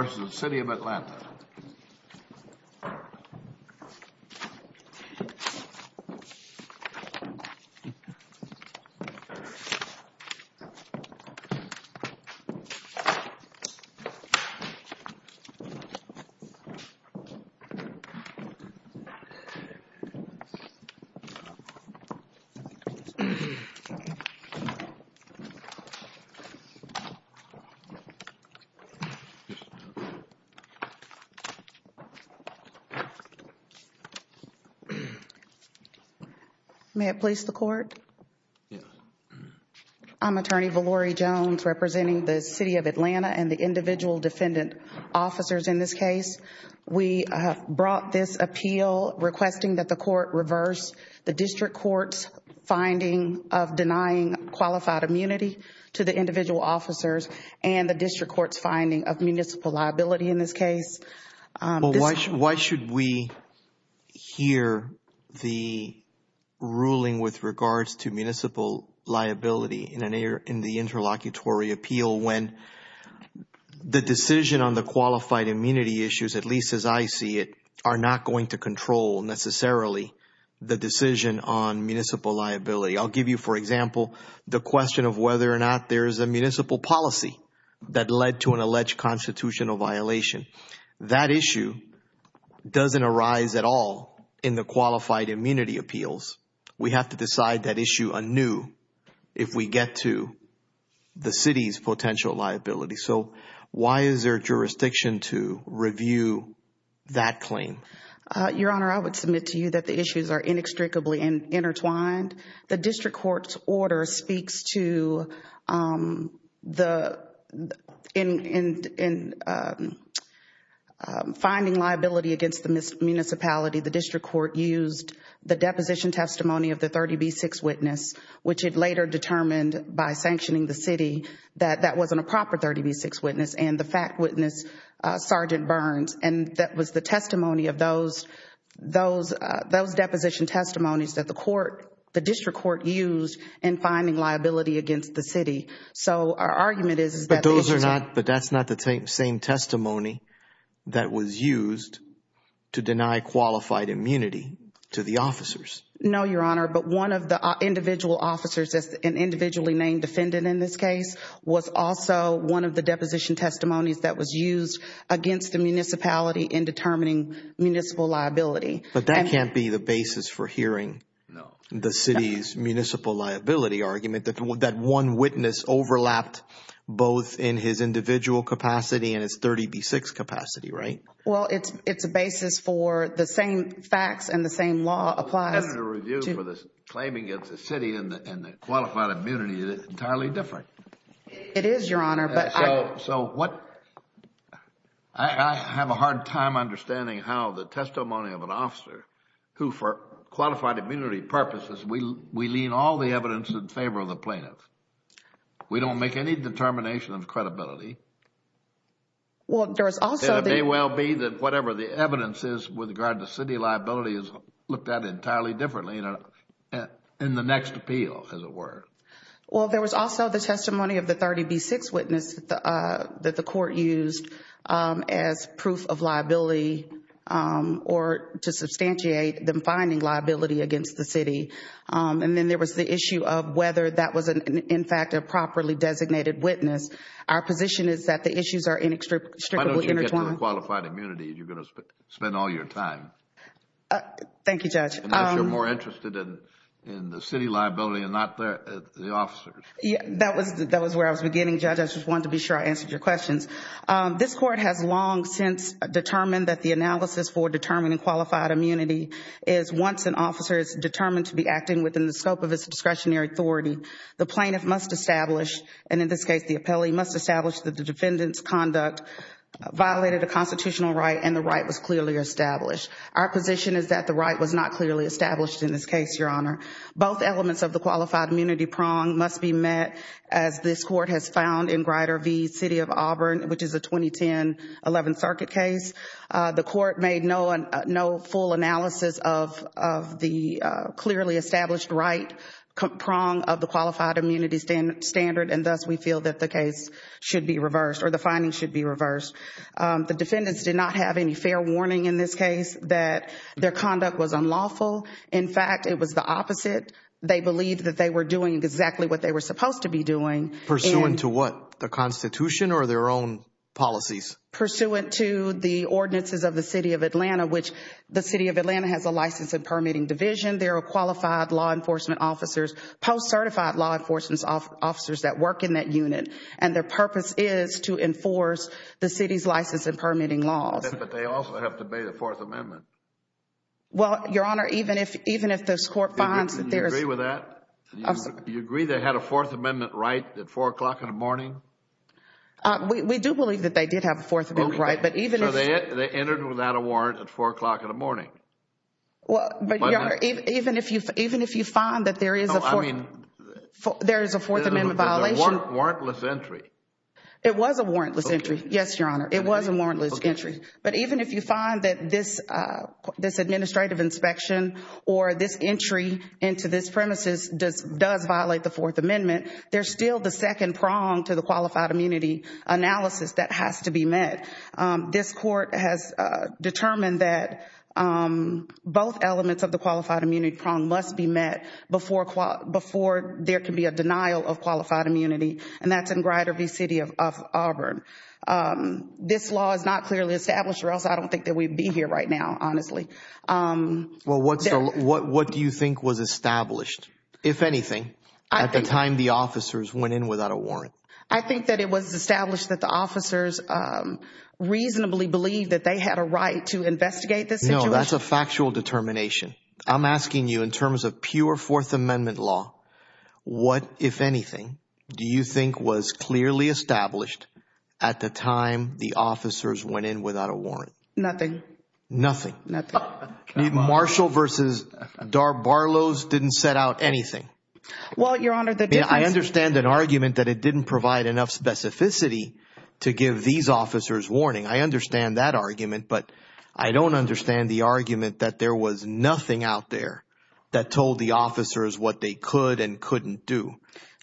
v. City of Atlanta May it please the Court? Yes. I am Attorney Valorie Jones representing the City of Atlanta and the individual defendant officers in this case. We have brought this appeal requesting that the Court reverse the District Court's finding of denying qualified immunity to the individual officers and the District Court's finding of municipal liability in this case. Why should we hear the ruling with regards to municipal liability in the interlocutory appeal when the decision on the qualified immunity issues, at least as I see it, are not going to control necessarily the decision on municipal liability? I'll give you, for example, the question of whether or not there is a municipal policy that led to an alleged constitutional violation. That issue doesn't arise at all in the qualified immunity appeals. We have to decide that issue anew if we get to the City's potential liability. So why is there jurisdiction to review that claim? Your Honor, I would submit to you that the issues are inextricably intertwined. The District Court's order speaks to finding liability against the municipality. The District Court used the deposition testimony of the 30B6 witness, which it later determined by sanctioning the City, that that wasn't a proper 30B6 witness and the fact witness Sergeant Burns. That was the testimony of those deposition testimonies that the District Court used in finding liability against the City. So our argument is that those are not... But that's not the same testimony that was used to deny qualified immunity to the officers. No, Your Honor, but one of the individual officers, an individually named defendant in this case, was also one of the deposition testimonies that was used against the municipality in determining municipal liability. But that can't be the basis for hearing the City's municipal liability argument that one witness overlapped both in his individual capacity and his 30B6 capacity, right? Well, it's a basis for the same facts and the same law applies... It's totally different. It is, Your Honor, but I... So what... I have a hard time understanding how the testimony of an officer who, for qualified immunity purposes, we lean all the evidence in favor of the plaintiff. We don't make any determination of credibility. Well, there is also... It may well be that whatever the evidence is with regard to City liability is looked at entirely differently in the next appeal, as it were. Well, there was also the testimony of the 30B6 witness that the court used as proof of liability or to substantiate them finding liability against the City. And then there was the issue of whether that was, in fact, a properly designated witness. Our position is that the issues are inextricably intertwined. Why don't you get to the qualified immunity? You're going to spend all your time. Thank you, Judge. And if you're more interested in the City liability and not the officers. That was where I was beginning, Judge. I just wanted to be sure I answered your questions. This Court has long since determined that the analysis for determining qualified immunity is once an officer is determined to be acting within the scope of his discretionary authority, the plaintiff must establish, and in this case, the appellee must establish that the defendant's conduct violated a constitutional right and the right was clearly established. Our position is that the right was not clearly established in this case, Your Honor. Both elements of the qualified immunity prong must be met as this Court has found in Grider v. City of Auburn, which is a 2010 11th Circuit case. The Court made no full analysis of the clearly established right prong of the qualified immunity standard and thus we feel that the case should be reversed or the findings should be reversed. The defendants did not have any fair warning in this case that their conduct was unlawful. In fact, it was the opposite. They believed that they were doing exactly what they were supposed to be doing. Pursuant to what? The Constitution or their own policies? Pursuant to the ordinances of the City of Atlanta, which the City of Atlanta has a license and permitting division. There are qualified law enforcement officers, post-certified law enforcement officers that work in that unit and their purpose is to enforce the City's license and permitting laws. But they also have to obey the Fourth Amendment. Well, Your Honor, even if this Court finds that there is... Do you agree with that? Do you agree they had a Fourth Amendment right at 4 o'clock in the morning? We do believe that they did have a Fourth Amendment right, but even if... So they entered without a warrant at 4 o'clock in the morning? Well, Your Honor, even if you find that there is a Fourth Amendment violation... But there was a warrantless entry. It was a warrantless entry, yes, Your Honor. It was a warrantless entry. But even if you find that this administrative inspection or this entry into this premises does violate the Fourth Amendment, there's still the second prong to the qualified immunity analysis that has to be met. This Court has determined that both elements of the qualified immunity prong must be met before there can be a denial of qualified immunity and that's in Grider v. City of Auburn. This law is not clearly established or else I don't think that we'd be here right now, honestly. Well, what do you think was established, if anything, at the time the officers went in without a warrant? I think that it was established that the officers reasonably believed that they had a right to investigate this situation. No, that's a factual determination. I'm asking you in terms of pure Fourth Amendment law, what, if anything, do you think was clearly established at the time the officers went in without a warrant? Nothing. Nothing? Nothing. Marshall v. Barlows didn't set out anything? Well, Your Honor, the difference... I understand an argument that it didn't provide enough specificity to give these officers warning. I understand that argument, but I don't understand the argument that there was nothing out there that told the officers what they could and couldn't do.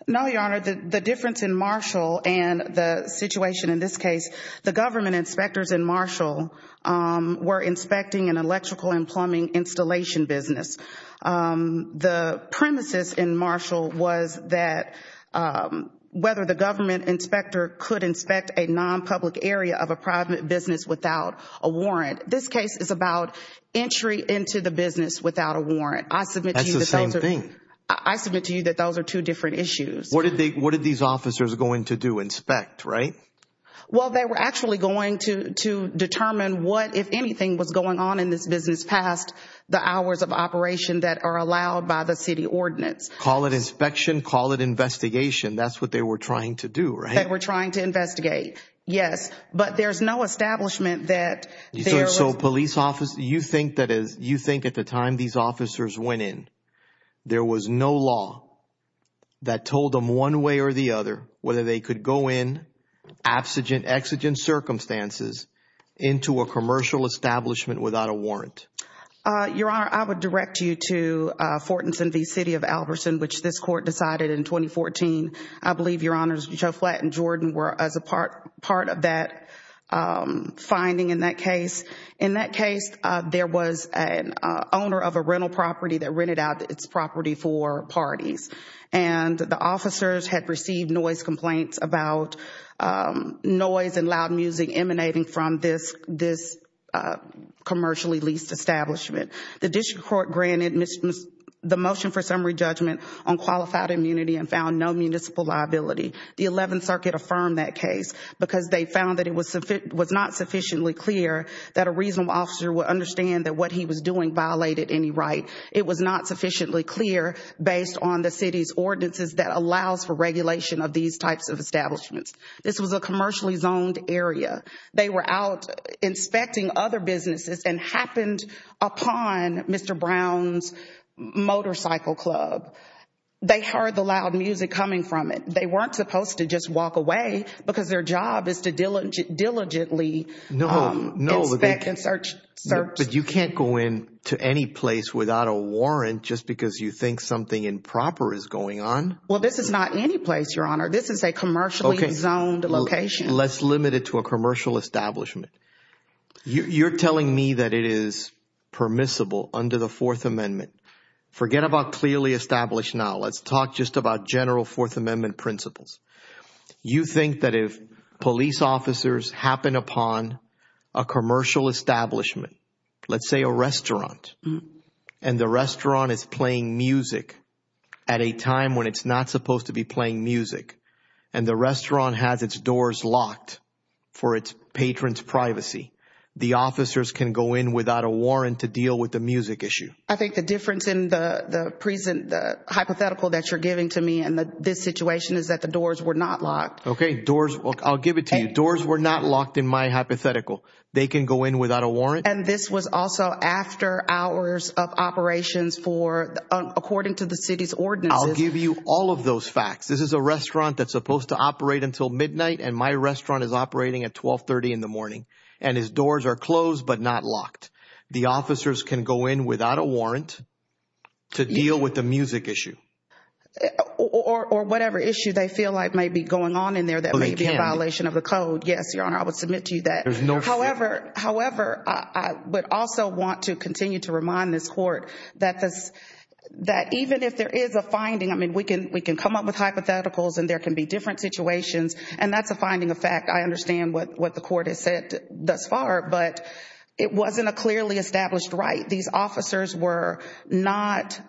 No, Your Honor, the difference in Marshall and the situation in this case, the government inspectors in Marshall were inspecting an electrical and plumbing installation business. The premises in Marshall was that whether the government inspector could inspect a non-public area of a private business without a warrant. This case is about entry into the business without a warrant. I submit to you... That's the same thing. I submit to you that those are two different issues. What did these officers go in to do, inspect, right? Well, they were actually going to determine what, if anything, was going on in this business past the hours of operation that are allowed by the city ordinance. Call it inspection, call it investigation. That's what they were trying to do, right? They were trying to investigate, yes. But there's no establishment that there was... So, police officer, you think that is... You think at the time these officers went in, there was no law that told them one way or the other whether they could go in, abstigent, exigent circumstances, into a commercial establishment without a warrant? Your Honor, I would direct you to Fortinson v. City of Albertson, which this court decided in 2014. I believe, Your Honors, Joe Flatt and Jordan were as a part of that finding in that case. In that case, there was an owner of a rental property that rented out its property for parties, and the officers had received noise complaints about noise and loud music emanating from this commercially leased establishment. The district court granted the motion for summary judgment on qualified immunity and found no municipal liability. The 11th Circuit affirmed that case because they found that it was not sufficiently clear that a reasonable officer would understand that what he was doing violated any right. It was not sufficiently clear based on the city's ordinances that allows for regulation of these types of establishments. This was a commercially zoned area. They were out inspecting other businesses and happened upon Mr. Brown's Motorcycle Club. They heard the loud music coming from it. They weren't supposed to just walk away because their job is to diligently inspect and search. You can't go in to any place without a warrant just because you think something improper is going on? Well, this is not any place, Your Honor. This is a commercially zoned location. Let's limit it to a commercial establishment. You're telling me that it is permissible under the Fourth Amendment. Forget about clearly established now. Let's talk just about general Fourth Amendment principles. You think that if police officers happen upon a commercial establishment, let's say a restaurant, and the restaurant is playing music at a time when it's not supposed to be playing music, and the restaurant has its doors locked for its patrons' privacy, the officers can go in without a warrant to deal with the music issue? I think the difference in the hypothetical that you're giving to me in this situation is that the doors were not locked. Okay. I'll give it to you. Doors were not locked in my hypothetical. They can go in without a warrant? And this was also after hours of operations according to the city's ordinances. I'll give you all of those facts. This is a restaurant that's supposed to operate until midnight, and my restaurant is operating at 1230 in the morning, and its doors are closed but not locked. The officers can go in without a warrant to deal with the music issue? Or whatever issue they feel like may be going on in there that may be a violation of the code. Yes, Your Honor. I would submit to you that. However, I would also want to continue to remind this Court that even if there is a hypothetical, and there can be different situations, and that's a finding of fact. I understand what the Court has said thus far, but it wasn't a clearly established right. These officers were not,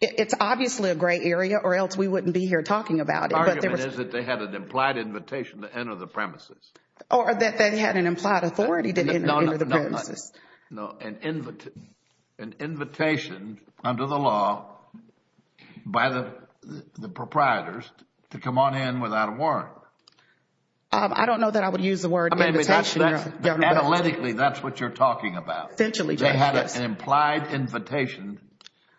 it's obviously a gray area or else we wouldn't be here talking about it. The argument is that they had an implied invitation to enter the premises. Or that they had an implied authority to enter the premises. No, an invitation under the law by the proprietors to come on in without a warrant. I don't know that I would use the word invitation, Your Honor. Analytically, that's what you're talking about. Essentially, yes. They had an implied invitation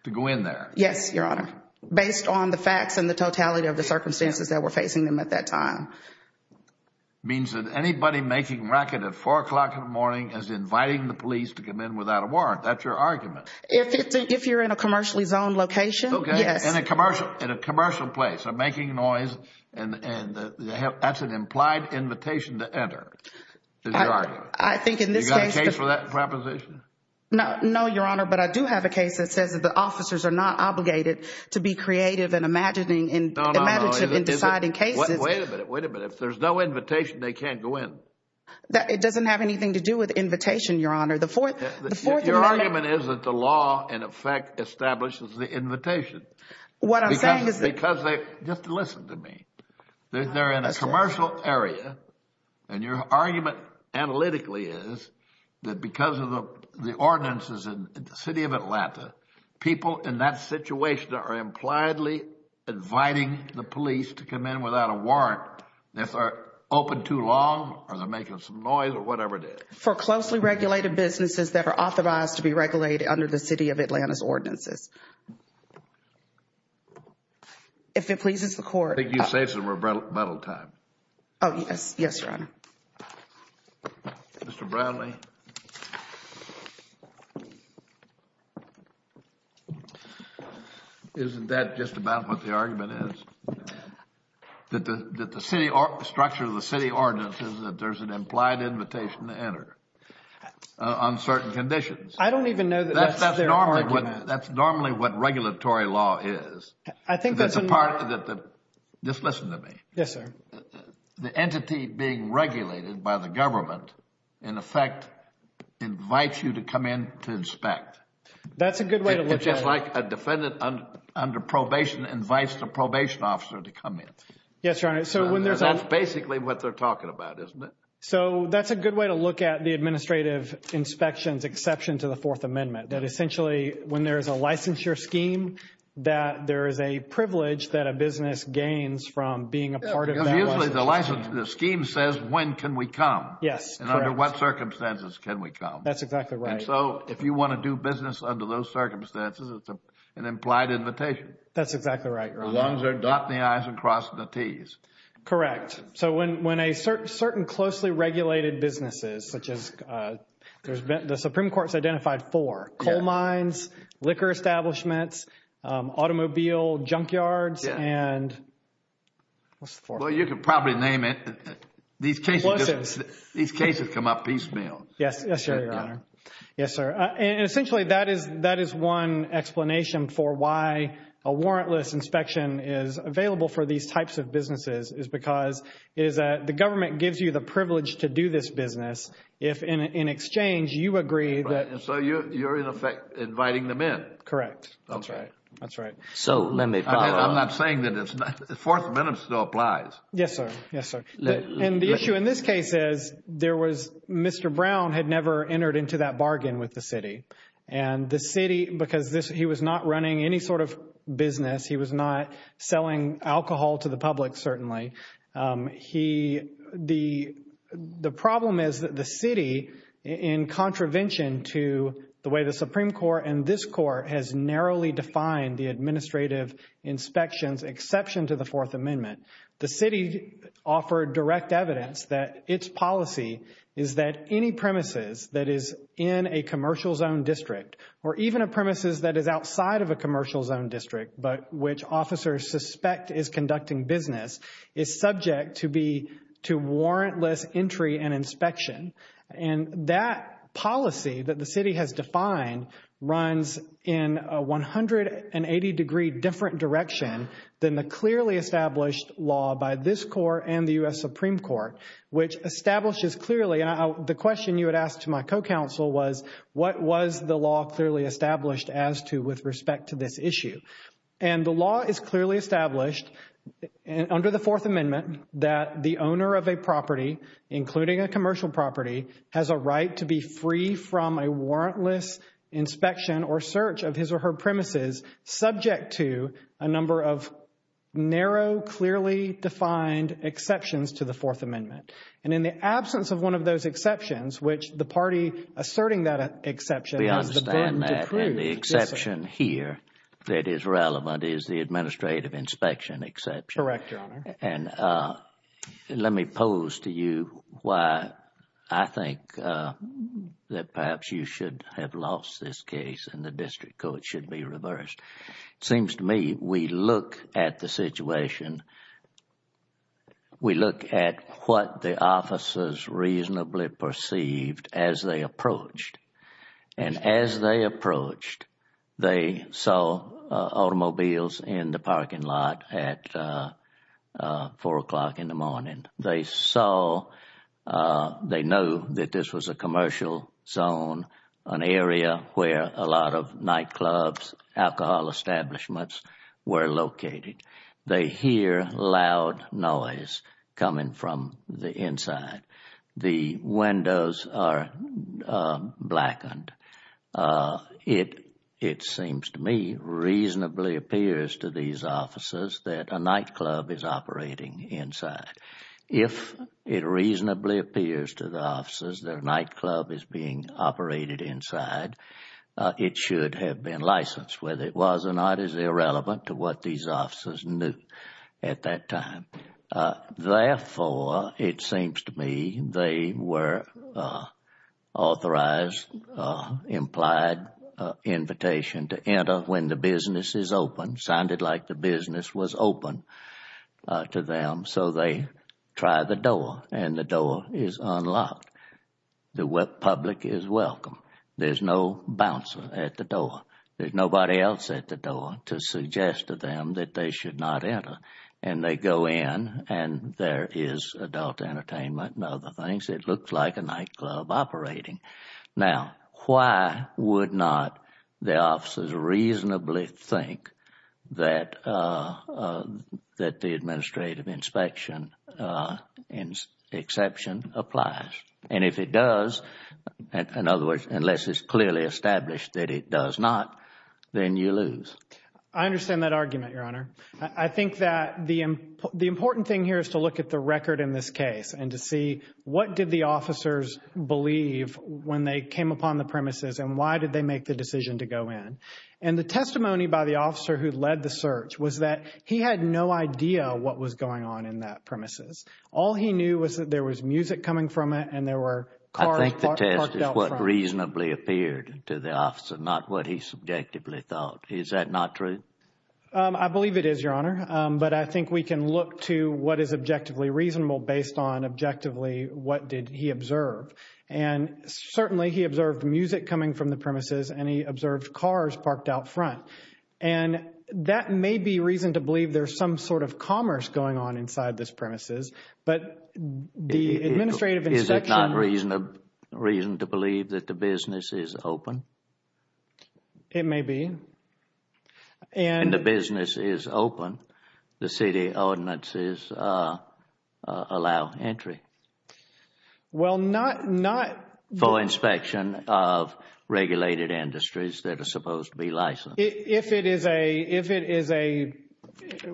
to go in there. Yes, Your Honor. Based on the facts and the totality of the circumstances that were facing them at that time. Your Honor, it means that anybody making racket at 4 o'clock in the morning is inviting the police to come in without a warrant. That's your argument. If you're in a commercially zoned location, yes. In a commercial place, making noise, and that's an implied invitation to enter, is your argument. I think in this case. Do you have a case for that proposition? No, Your Honor, but I do have a case that says that the officers are not obligated to be creative and imaginative in deciding cases. Wait a minute. Wait a minute. If there's no invitation, they can't go in. It doesn't have anything to do with invitation, Your Honor. The fourth amendment. Your argument is that the law, in effect, establishes the invitation. What I'm saying is that. Because they. Just listen to me. They're in a commercial area, and your argument analytically is that because of the ordinances in the city of Atlanta, people in that situation are impliedly inviting the police to come in without a warrant. If they're open too long, or they're making some noise, or whatever it is. For closely regulated businesses that are authorized to be regulated under the city of Atlanta's ordinances. If it pleases the court. I think you've saved some rebuttal time. Oh, yes. Yes, Your Honor. Mr. Bradley. Isn't that just about what the argument is? That the city structure of the city ordinances, that there's an implied invitation to enter on certain conditions. I don't even know that that's their argument. That's normally what regulatory law is. I think that's. That's a part. Just listen to me. Yes, sir. The entity being regulated by the government, in effect, invites you to come in to inspect. That's a good way to look at it. It's just like a defendant under probation invites the probation officer to come in. Yes, Your Honor. So when there's a. That's basically what they're talking about, isn't it? So that's a good way to look at the administrative inspections exception to the Fourth Amendment. That essentially, when there's a licensure scheme, that there is a privilege that a business gains from being a part of that. Because usually the license, the scheme says, when can we come? Yes, correct. And under what circumstances can we come? That's exactly right. And so if you want to do business under those circumstances, it's an implied invitation. That's exactly right, Your Honor. As long as they're dotting the i's and crossing the t's. Correct. So when a certain closely regulated businesses, such as, there's been, the Supreme Court's Well, you can probably name it. These cases come up piecemeal. Yes, sir, Your Honor. Yes, sir. And essentially, that is one explanation for why a warrantless inspection is available for these types of businesses, is because the government gives you the privilege to do this business. If in exchange, you agree that. So you're, in effect, inviting them in. Correct. That's right. That's right. So let me. I'm not saying that it's not, the fourth amendment still applies. Yes, sir. Yes, sir. And the issue in this case is, there was, Mr. Brown had never entered into that bargain with the city. And the city, because he was not running any sort of business, he was not selling alcohol to the public, certainly. The problem is that the city, in contravention to the way the Supreme Court and this Court has narrowly defined the administrative inspections, exception to the fourth amendment. The city offered direct evidence that its policy is that any premises that is in a commercial zone district, or even a premises that is outside of a commercial zone district, but which officers suspect is conducting business, is subject to be, to warrantless entry and inspection. And that policy that the city has defined runs in a 180 degree different direction than the clearly established law by this Court and the U.S. Supreme Court, which establishes clearly. And the question you had asked to my co-counsel was, what was the law clearly established as to with respect to this issue? And the law is clearly established under the fourth amendment that the owner of a property, including a commercial property, has a right to be free from a warrantless inspection or search of his or her premises, subject to a number of narrow, clearly defined exceptions to the fourth amendment. And in the absence of one of those exceptions, which the party asserting that exception has the burden to prove. We understand that. And the exception here that is relevant is the administrative inspection exception. Correct, Your Honor. And let me pose to you why I think that perhaps you should have lost this case and the district court should be reversed. It seems to me we look at the situation, we look at what the officers reasonably perceived as they approached. And as they approached, they saw automobiles in the parking lot at 4 o'clock in the morning. They saw, they know that this was a commercial zone, an area where a lot of nightclubs, alcohol establishments were located. They hear loud noise coming from the inside. The windows are blackened. It seems to me reasonably appears to these officers that a nightclub is operating inside. If it reasonably appears to the officers that a nightclub is being operated inside, it should have been licensed, whether it was or not is irrelevant to what these officers knew at that time. Therefore, it seems to me they were authorized, implied invitation to enter when the business is open, sounded like the business was open to them. So they try the door and the door is unlocked. The public is welcome. There's no bouncer at the door. There's nobody else at the door to suggest to them that they should not enter. And they go in and there is adult entertainment and other things. It looks like a nightclub operating. Now, why would not the officers reasonably think that the administrative inspection exception applies? And if it does, in other words, unless it's clearly established that it does not, then you lose. I understand that argument, Your Honor. I think that the the important thing here is to look at the record in this case and to see what did the officers believe when they came upon the premises and why did they make the decision to go in? And the testimony by the officer who led the search was that he had no idea what was going on in that premises. All he knew was that there was music coming from it and there were cars parked out front. I think the test is what reasonably appeared to the officer, not what he subjectively thought. Is that not true? I believe it is, Your Honor. But I think we can look to what is objectively reasonable based on objectively what did he observe? And certainly he observed the music coming from the premises and he observed cars parked out front. And that may be reason to believe there's some sort of commerce going on inside this premises. But the administrative inspection... Is it not reason to believe that the business is open? It may be. And the business is open. The city ordinances allow entry... Well, not...... for inspection of regulated industries that are supposed to be licensed. If it is a, if it is a,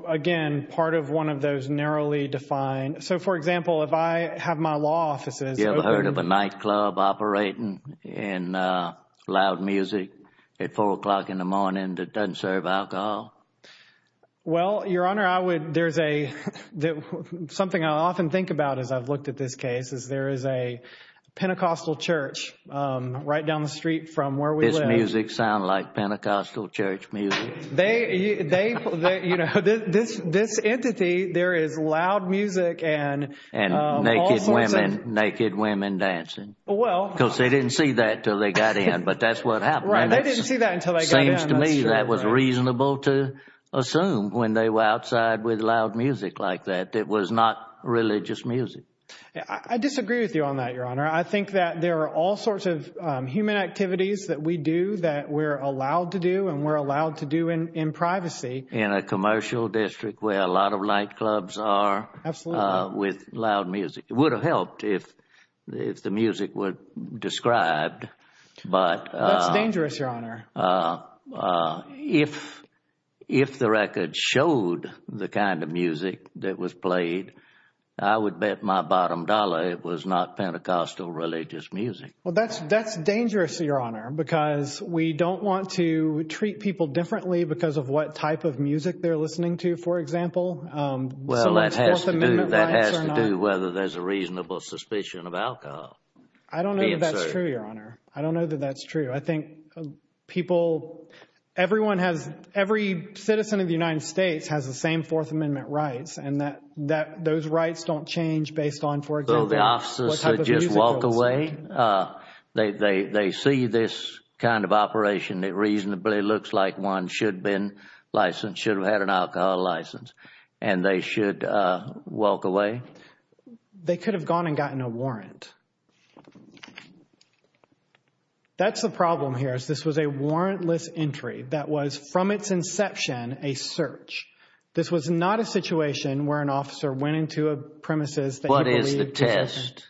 again, part of one of those narrowly defined... So, for example, if I have my law offices...... written in loud music at 4 o'clock in the morning that doesn't serve alcohol? Well, Your Honor, I would, there's a, something I often think about as I've looked at this case, is there is a Pentecostal church right down the street from where we live... Does this music sound like Pentecostal church music? They, they, you know, this, this entity, there is loud music and... Well...... because they didn't see that until they got in, but that's what happened. Right, they didn't see that until they got in. Seems to me that was reasonable to assume when they were outside with loud music like that. It was not religious music. I disagree with you on that, Your Honor. I think that there are all sorts of human activities that we do that we're allowed to do...... and we're allowed to do in, in privacy. In a commercial district where a lot of nightclubs are... Absolutely.... with loud music. It would have helped if, if the music were described, but... That's dangerous, Your Honor.... if, if the record showed the kind of music that was played, I would bet my bottom dollar it was not Pentecostal religious music. Well, that's, that's dangerous, Your Honor, because we don't want to treat people differently...... because of what type of music they're listening to, for example. Well, that has to do, that has to do... Fourth Amendment rights or not.... with a reasonable suspicion of alcohol. I don't know that that's true, Your Honor. I don't know that that's true. I think people, everyone has, every citizen of the United States has the same Fourth Amendment rights...... and that, that, those rights don't change based on, for example, what type of music they're listening to. So, the officers should just walk away? They, they, they see this kind of operation that reasonably looks like one should have been licensed, should have had an alcohol license...... and they should walk away? They could have gone and gotten a warrant. That's the problem here, is this was a warrantless entry that was, from its inception, a search. This was not a situation where an officer went into a premises that he believed...... under the statute,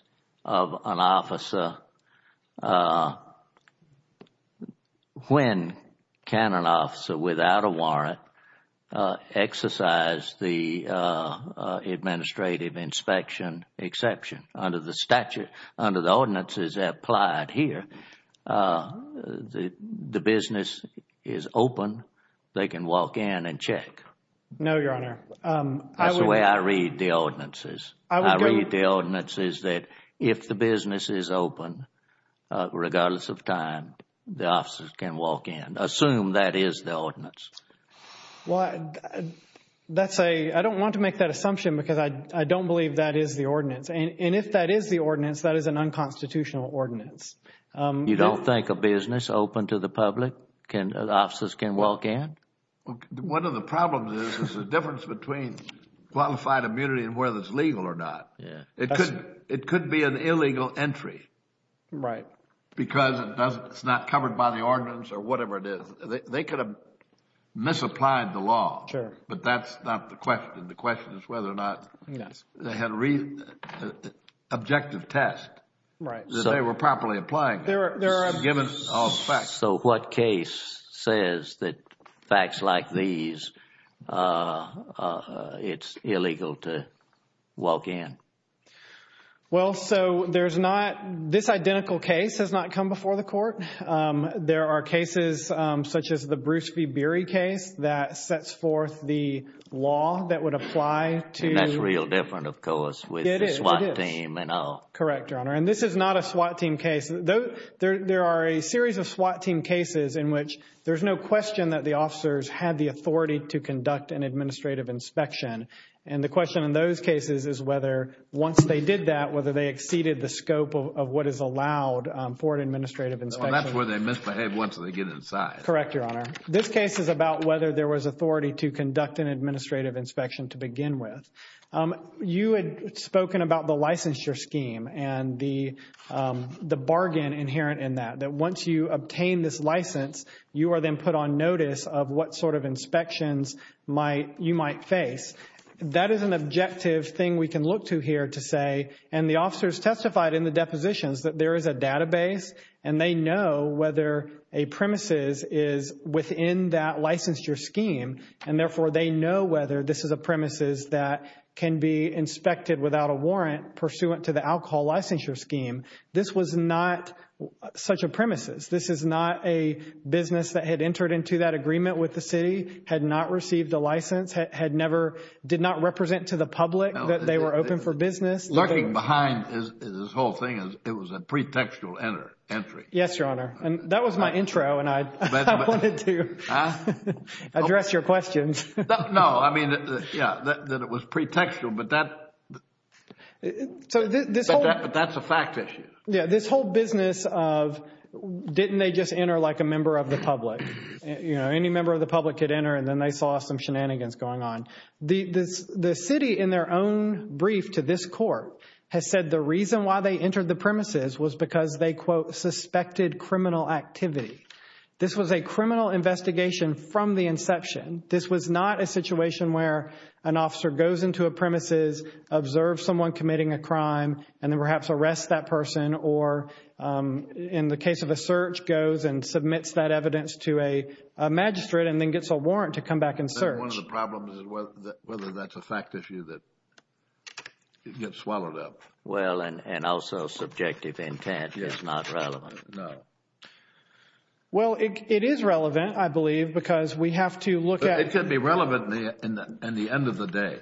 under the ordinances applied here, the business is open. They can walk in and check. No, Your Honor. That's the way I read the ordinances. I read the ordinances that if the business is open, regardless of time, the officers can walk in. Assume that is the ordinance. Well, that's a, I don't want to make that assumption because I, I don't believe that is the ordinance. And, and if that is the ordinance, that is an unconstitutional ordinance. You don't think a business open to the public can, officers can walk in? One of the problems is, is the difference between qualified immunity and whether it's legal or not. It could, it could be an illegal entry. Right. Because it doesn't, it's not covered by the ordinance or whatever it is. They could have misapplied the law. Sure. But that's not the question. The question is whether or not... Yes.... they had a reason, objective test... Right.... that they were properly applying it. There are... Given all the facts. So what case says that facts like these, it's illegal to walk in? Well, so there's not, this identical case has not come before the court. There are cases such as the Bruce V. Beery case that sets forth the law that would apply to... And that's real different, of course... It is.... with the SWAT team and all. Correct, Your Honor. And this is not a SWAT team case. There are a series of SWAT team cases in which there's no question that the officers had the authority to conduct an administrative inspection. And the question in those cases is whether, once they did that, whether they exceeded the scope of what is allowed for an administrative inspection. Well, that's where they misbehave once they get inside. Correct, Your Honor. This case is about whether there was authority to conduct an administrative inspection to begin with. You had spoken about the licensure scheme and the bargain inherent in that, that once you obtain this license, you are then put on notice of what sort of inspections you might face. That is an objective thing we can look to here to say... They know whether a premises is within that licensure scheme, and therefore they know whether this is a premises that can be inspected without a warrant pursuant to the alcohol licensure scheme. This was not such a premises. This is not a business that had entered into that agreement with the city, had not received a license, had never... did not represent to the public that they were open for business. Looking behind this whole thing, it was a pretextual entry. Yes, Your Honor. That was my intro, and I wanted to address your questions. No, I mean, yeah, that it was pretextual, but that's a fact issue. Yeah, this whole business of didn't they just enter like a member of the public? Any member of the public could enter, and then they saw some shenanigans going on. The city, in their own brief to this court, has said the reason why they entered the premises was because they, quote, suspected criminal activity. This was a criminal investigation from the inception. This was not a situation where an officer goes into a premises, observes someone committing a crime, and then perhaps arrests that person or, in the case of a search, goes and submits that evidence to a magistrate and then gets a warrant to come back and search. One of the problems is whether that's a fact issue that gets swallowed up. Well, and also subjective intent is not relevant. No. Well, it is relevant, I believe, because we have to look at... It could be relevant in the end of the day.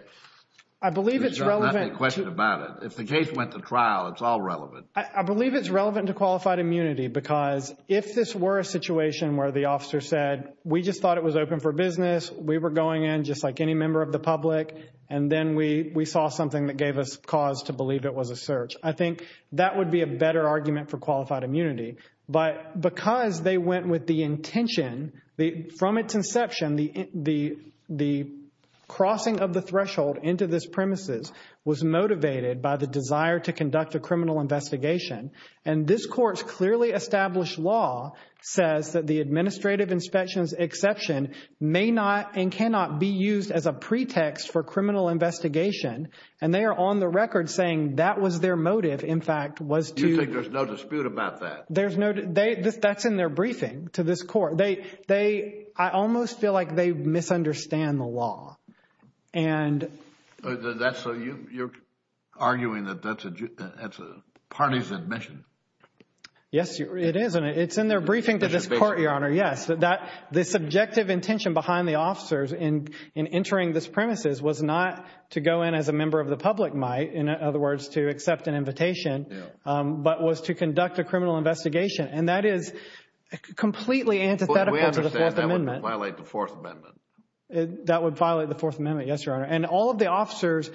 I believe it's relevant... There's not any question about it. If the case went to trial, it's all relevant. I believe it's relevant to qualified immunity because if this were a situation where the officer said, we just thought it was open for business, we were going in just like any member of the public, and then we saw something that gave us cause to believe it was a search, I think that would be a better argument for qualified immunity. But because they went with the intention, from its inception, the crossing of the threshold into this premises was motivated by the desire to conduct a criminal investigation. And this Court's clearly established law says that the administrative inspection's exception may not and cannot be used as a pretext for criminal investigation. And they are on the record saying that was their motive, in fact, was to... You think there's no dispute about that? That's in their briefing to this Court. I almost feel like they misunderstand the law. So you're arguing that that's a party's admission? Yes, it is, and it's in their briefing to this Court, Your Honor, yes. The subjective intention behind the officers in entering this premises was not to go in as a member of the public might, in other words, to accept an invitation, but was to conduct a criminal investigation. And that is completely antithetical to the Fourth Amendment. We understand that would violate the Fourth Amendment. That would violate the Fourth Amendment, yes, Your Honor. And all of the officers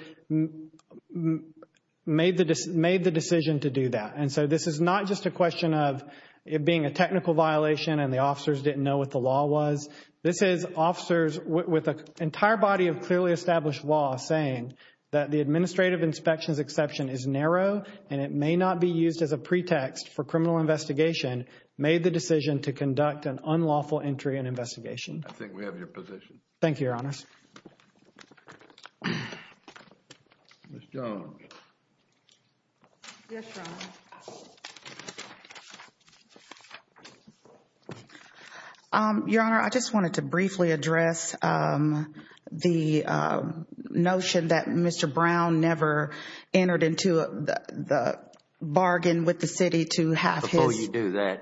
made the decision to do that. And so this is not just a question of it being a technical violation and the officers didn't know what the law was. This is officers with an entire body of clearly established law saying that the administrative inspection's exception is narrow and it may not be used as a pretext for criminal investigation, made the decision to conduct an unlawful entry and investigation. I think we have your position. Thank you, Your Honor. Ms. Jones. Yes, Your Honor. Your Honor, I just wanted to briefly address the notion that Mr. Brown never entered into the bargain with the city to have his Do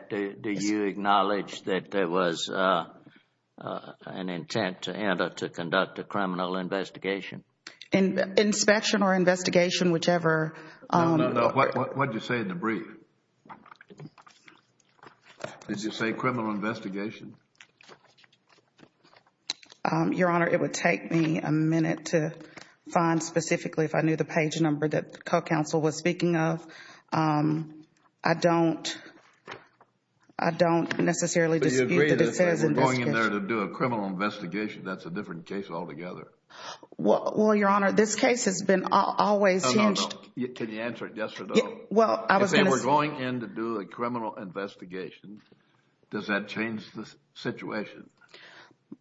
you acknowledge that there was an intent to conduct a criminal investigation? Inspection or investigation, whichever. No, no, no. What did you say in the brief? Did you say criminal investigation? Your Honor, it would take me a minute to find specifically if I knew the page number that the co-counsel was speaking of. I don't necessarily dispute that it says investigation. But you agree that if they were going in there to do a criminal investigation, that's a different case altogether. Well, Your Honor, this case has been always hinged. Oh, no, no. Can you answer it yes or no? Well, I was going to say. If they were going in to do a criminal investigation, does that change the situation?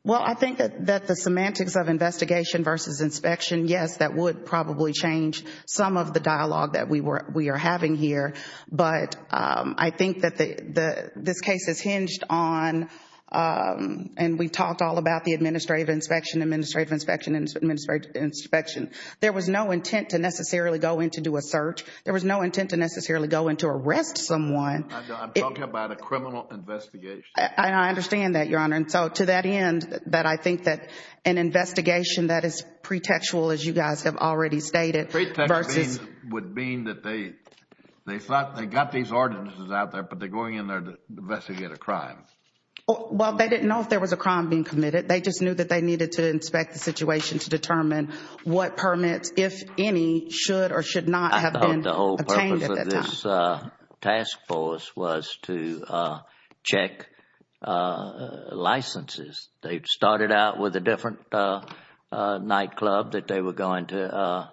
Well, I think that the semantics of investigation versus inspection, yes, that would probably change some of the dialogue that we are having here. But I think that this case is hinged on, and we talked all about the administrative inspection, administrative inspection, administrative inspection. There was no intent to necessarily go in to do a search. There was no intent to necessarily go in to arrest someone. I'm talking about a criminal investigation. I understand that, Your Honor. And so to that end, that I think that an investigation that is pretextual, as you guys have already stated, versus Pretextual would mean that they thought they got these artists out there, but they're going in there to investigate a crime. Well, they didn't know if there was a crime being committed. They just knew that they needed to inspect the situation to determine what permits, if any, should or should not have been obtained at that time. And so this task force was to check licenses. They started out with a different nightclub that they were going to,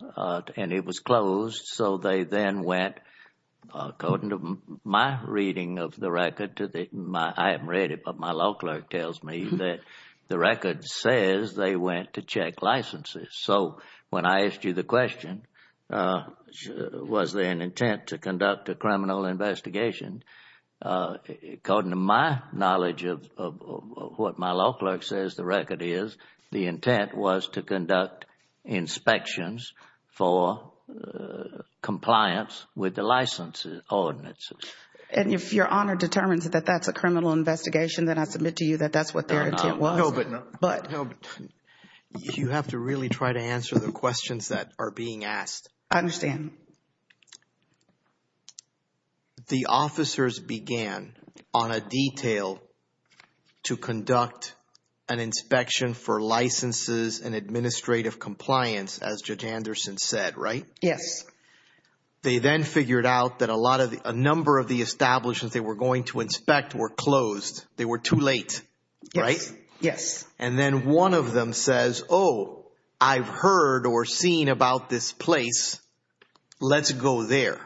and it was closed. So they then went, according to my reading of the record, I haven't read it, but my law clerk tells me that the record says they went to check licenses. So when I asked you the question, was there an intent to conduct a criminal investigation? According to my knowledge of what my law clerk says the record is, the intent was to conduct inspections for compliance with the license ordinances. And if Your Honor determines that that's a criminal investigation, then I submit to you that that's what their intent was. No, but you have to really try to answer the questions that are being asked. I understand. The officers began on a detail to conduct an inspection for licenses and administrative compliance, as Judge Anderson said, right? Yes. They then figured out that a number of the establishments they were going to inspect were closed. They were too late, right? Yes. And then one of them says, oh, I've heard or seen about this place. Let's go there.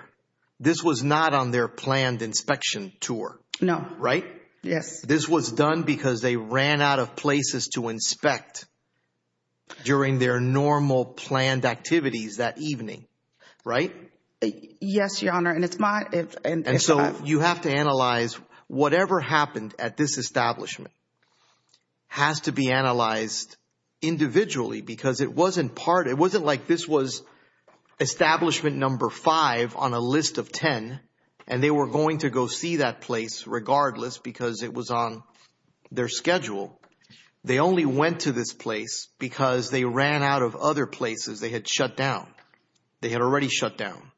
This was not on their planned inspection tour. No. Right? Yes. This was done because they ran out of places to inspect during their normal planned activities that evening, right? Yes, Your Honor. And so you have to analyze whatever happened at this establishment has to be analyzed individually because it wasn't like this was establishment number five on a list of ten and they were going to go see that place regardless because it was on their schedule. They only went to this place because they ran out of other places. They had shut down. They had already shut down.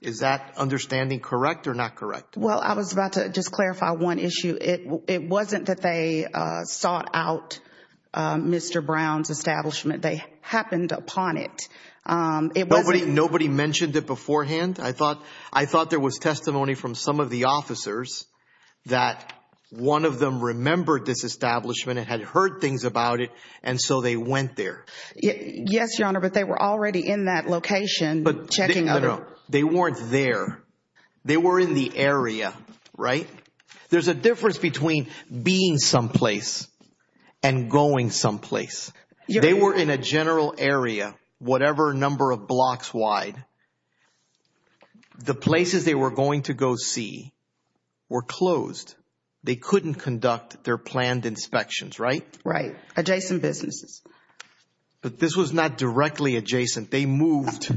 Is that understanding correct or not correct? Well, I was about to just clarify one issue. It wasn't that they sought out Mr. Brown's establishment. They happened upon it. Nobody mentioned it beforehand? I thought there was testimony from some of the officers that one of them remembered this establishment and had heard things about it, and so they went there. Yes, Your Honor, but they were already in that location checking. No, no, no. They weren't there. They were in the area, right? There's a difference between being someplace and going someplace. They were in a general area, whatever number of blocks wide. The places they were going to go see were closed. They couldn't conduct their planned inspections, right? Right. Adjacent businesses. But this was not directly adjacent. They moved,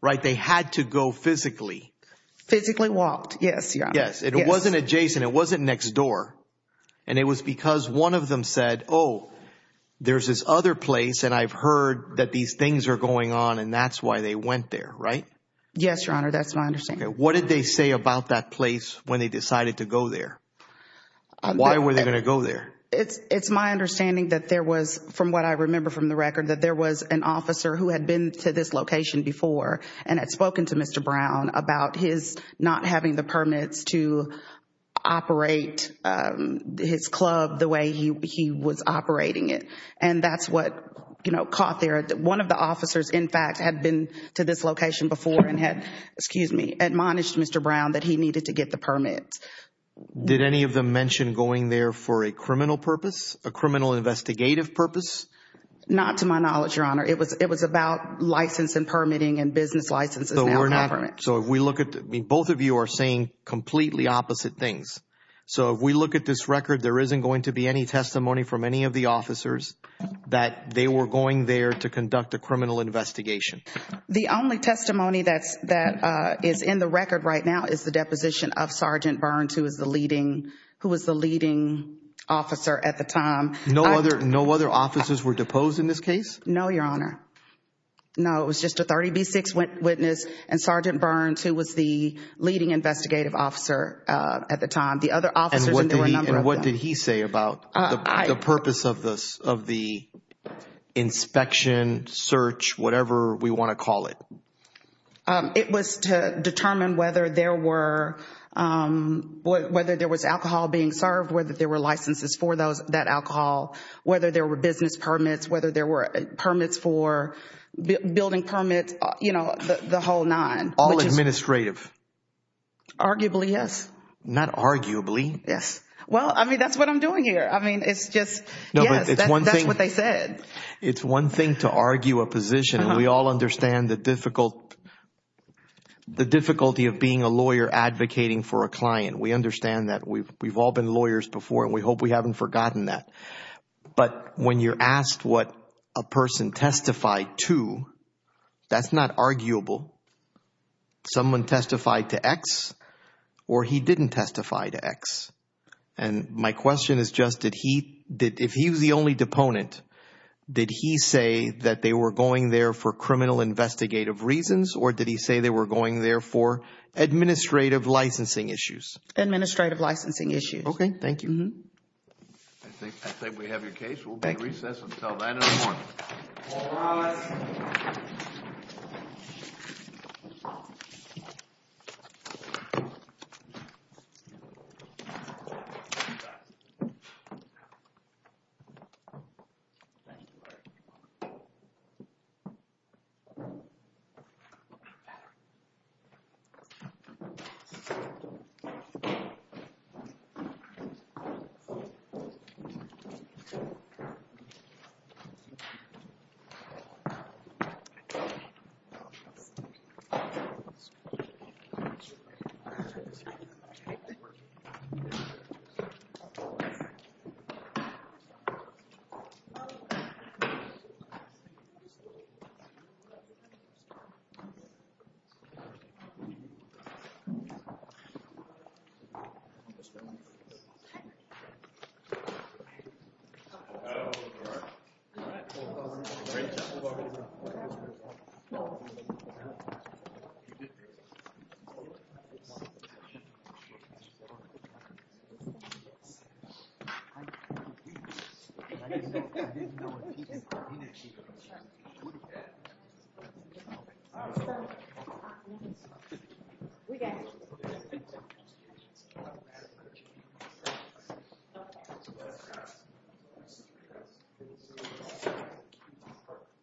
right? They had to go physically. Physically walked, yes, Your Honor. Yes, it wasn't adjacent. It wasn't next door. And it was because one of them said, oh, there's this other place, and I've heard that these things are going on, and that's why they went there, right? Yes, Your Honor, that's my understanding. What did they say about that place when they decided to go there? Why were they going to go there? It's my understanding that there was, from what I remember from the record, that there was an officer who had been to this location before and had spoken to Mr. Brown about his not having the permits to operate his club the way he was operating it. And that's what caught there. One of the officers, in fact, had been to this location before and had, excuse me, admonished Mr. Brown that he needed to get the permit. Did any of them mention going there for a criminal purpose, a criminal investigative purpose? Not to my knowledge, Your Honor. It was about license and permitting and business licenses and alcohol permits. So if we look at it, both of you are saying completely opposite things. So if we look at this record, there isn't going to be any testimony from any of the officers that they were going there to conduct a criminal investigation. The only testimony that is in the record right now is the deposition of Sergeant Burns, who was the leading officer at the time. No other officers were deposed in this case? No, Your Honor. No, it was just a 30B6 witness and Sergeant Burns, who was the leading investigative officer at the time. What did he say about the purpose of the inspection, search, whatever we want to call it? It was to determine whether there was alcohol being served, whether there were licenses for that alcohol, whether there were business permits, whether there were permits for building permits, you know, the whole nine. All administrative? Arguably, yes. Not arguably. Well, I mean, that's what I'm doing here. I mean, it's just, yes, that's what they said. It's one thing to argue a position, and we all understand the difficulty of being a lawyer advocating for a client. We understand that. We've all been lawyers before, and we hope we haven't forgotten that. But when you're asked what a person testified to, that's not arguable. Someone testified to X, or he didn't testify to X. And my question is just, if he was the only deponent, did he say that they were going there for criminal investigative reasons, or did he say they were going there for administrative licensing issues? Administrative licensing issues. Okay. Thank you. I think we have your case. We'll be at recess until 9 in the morning. All rise. Thank you. All right. Great job.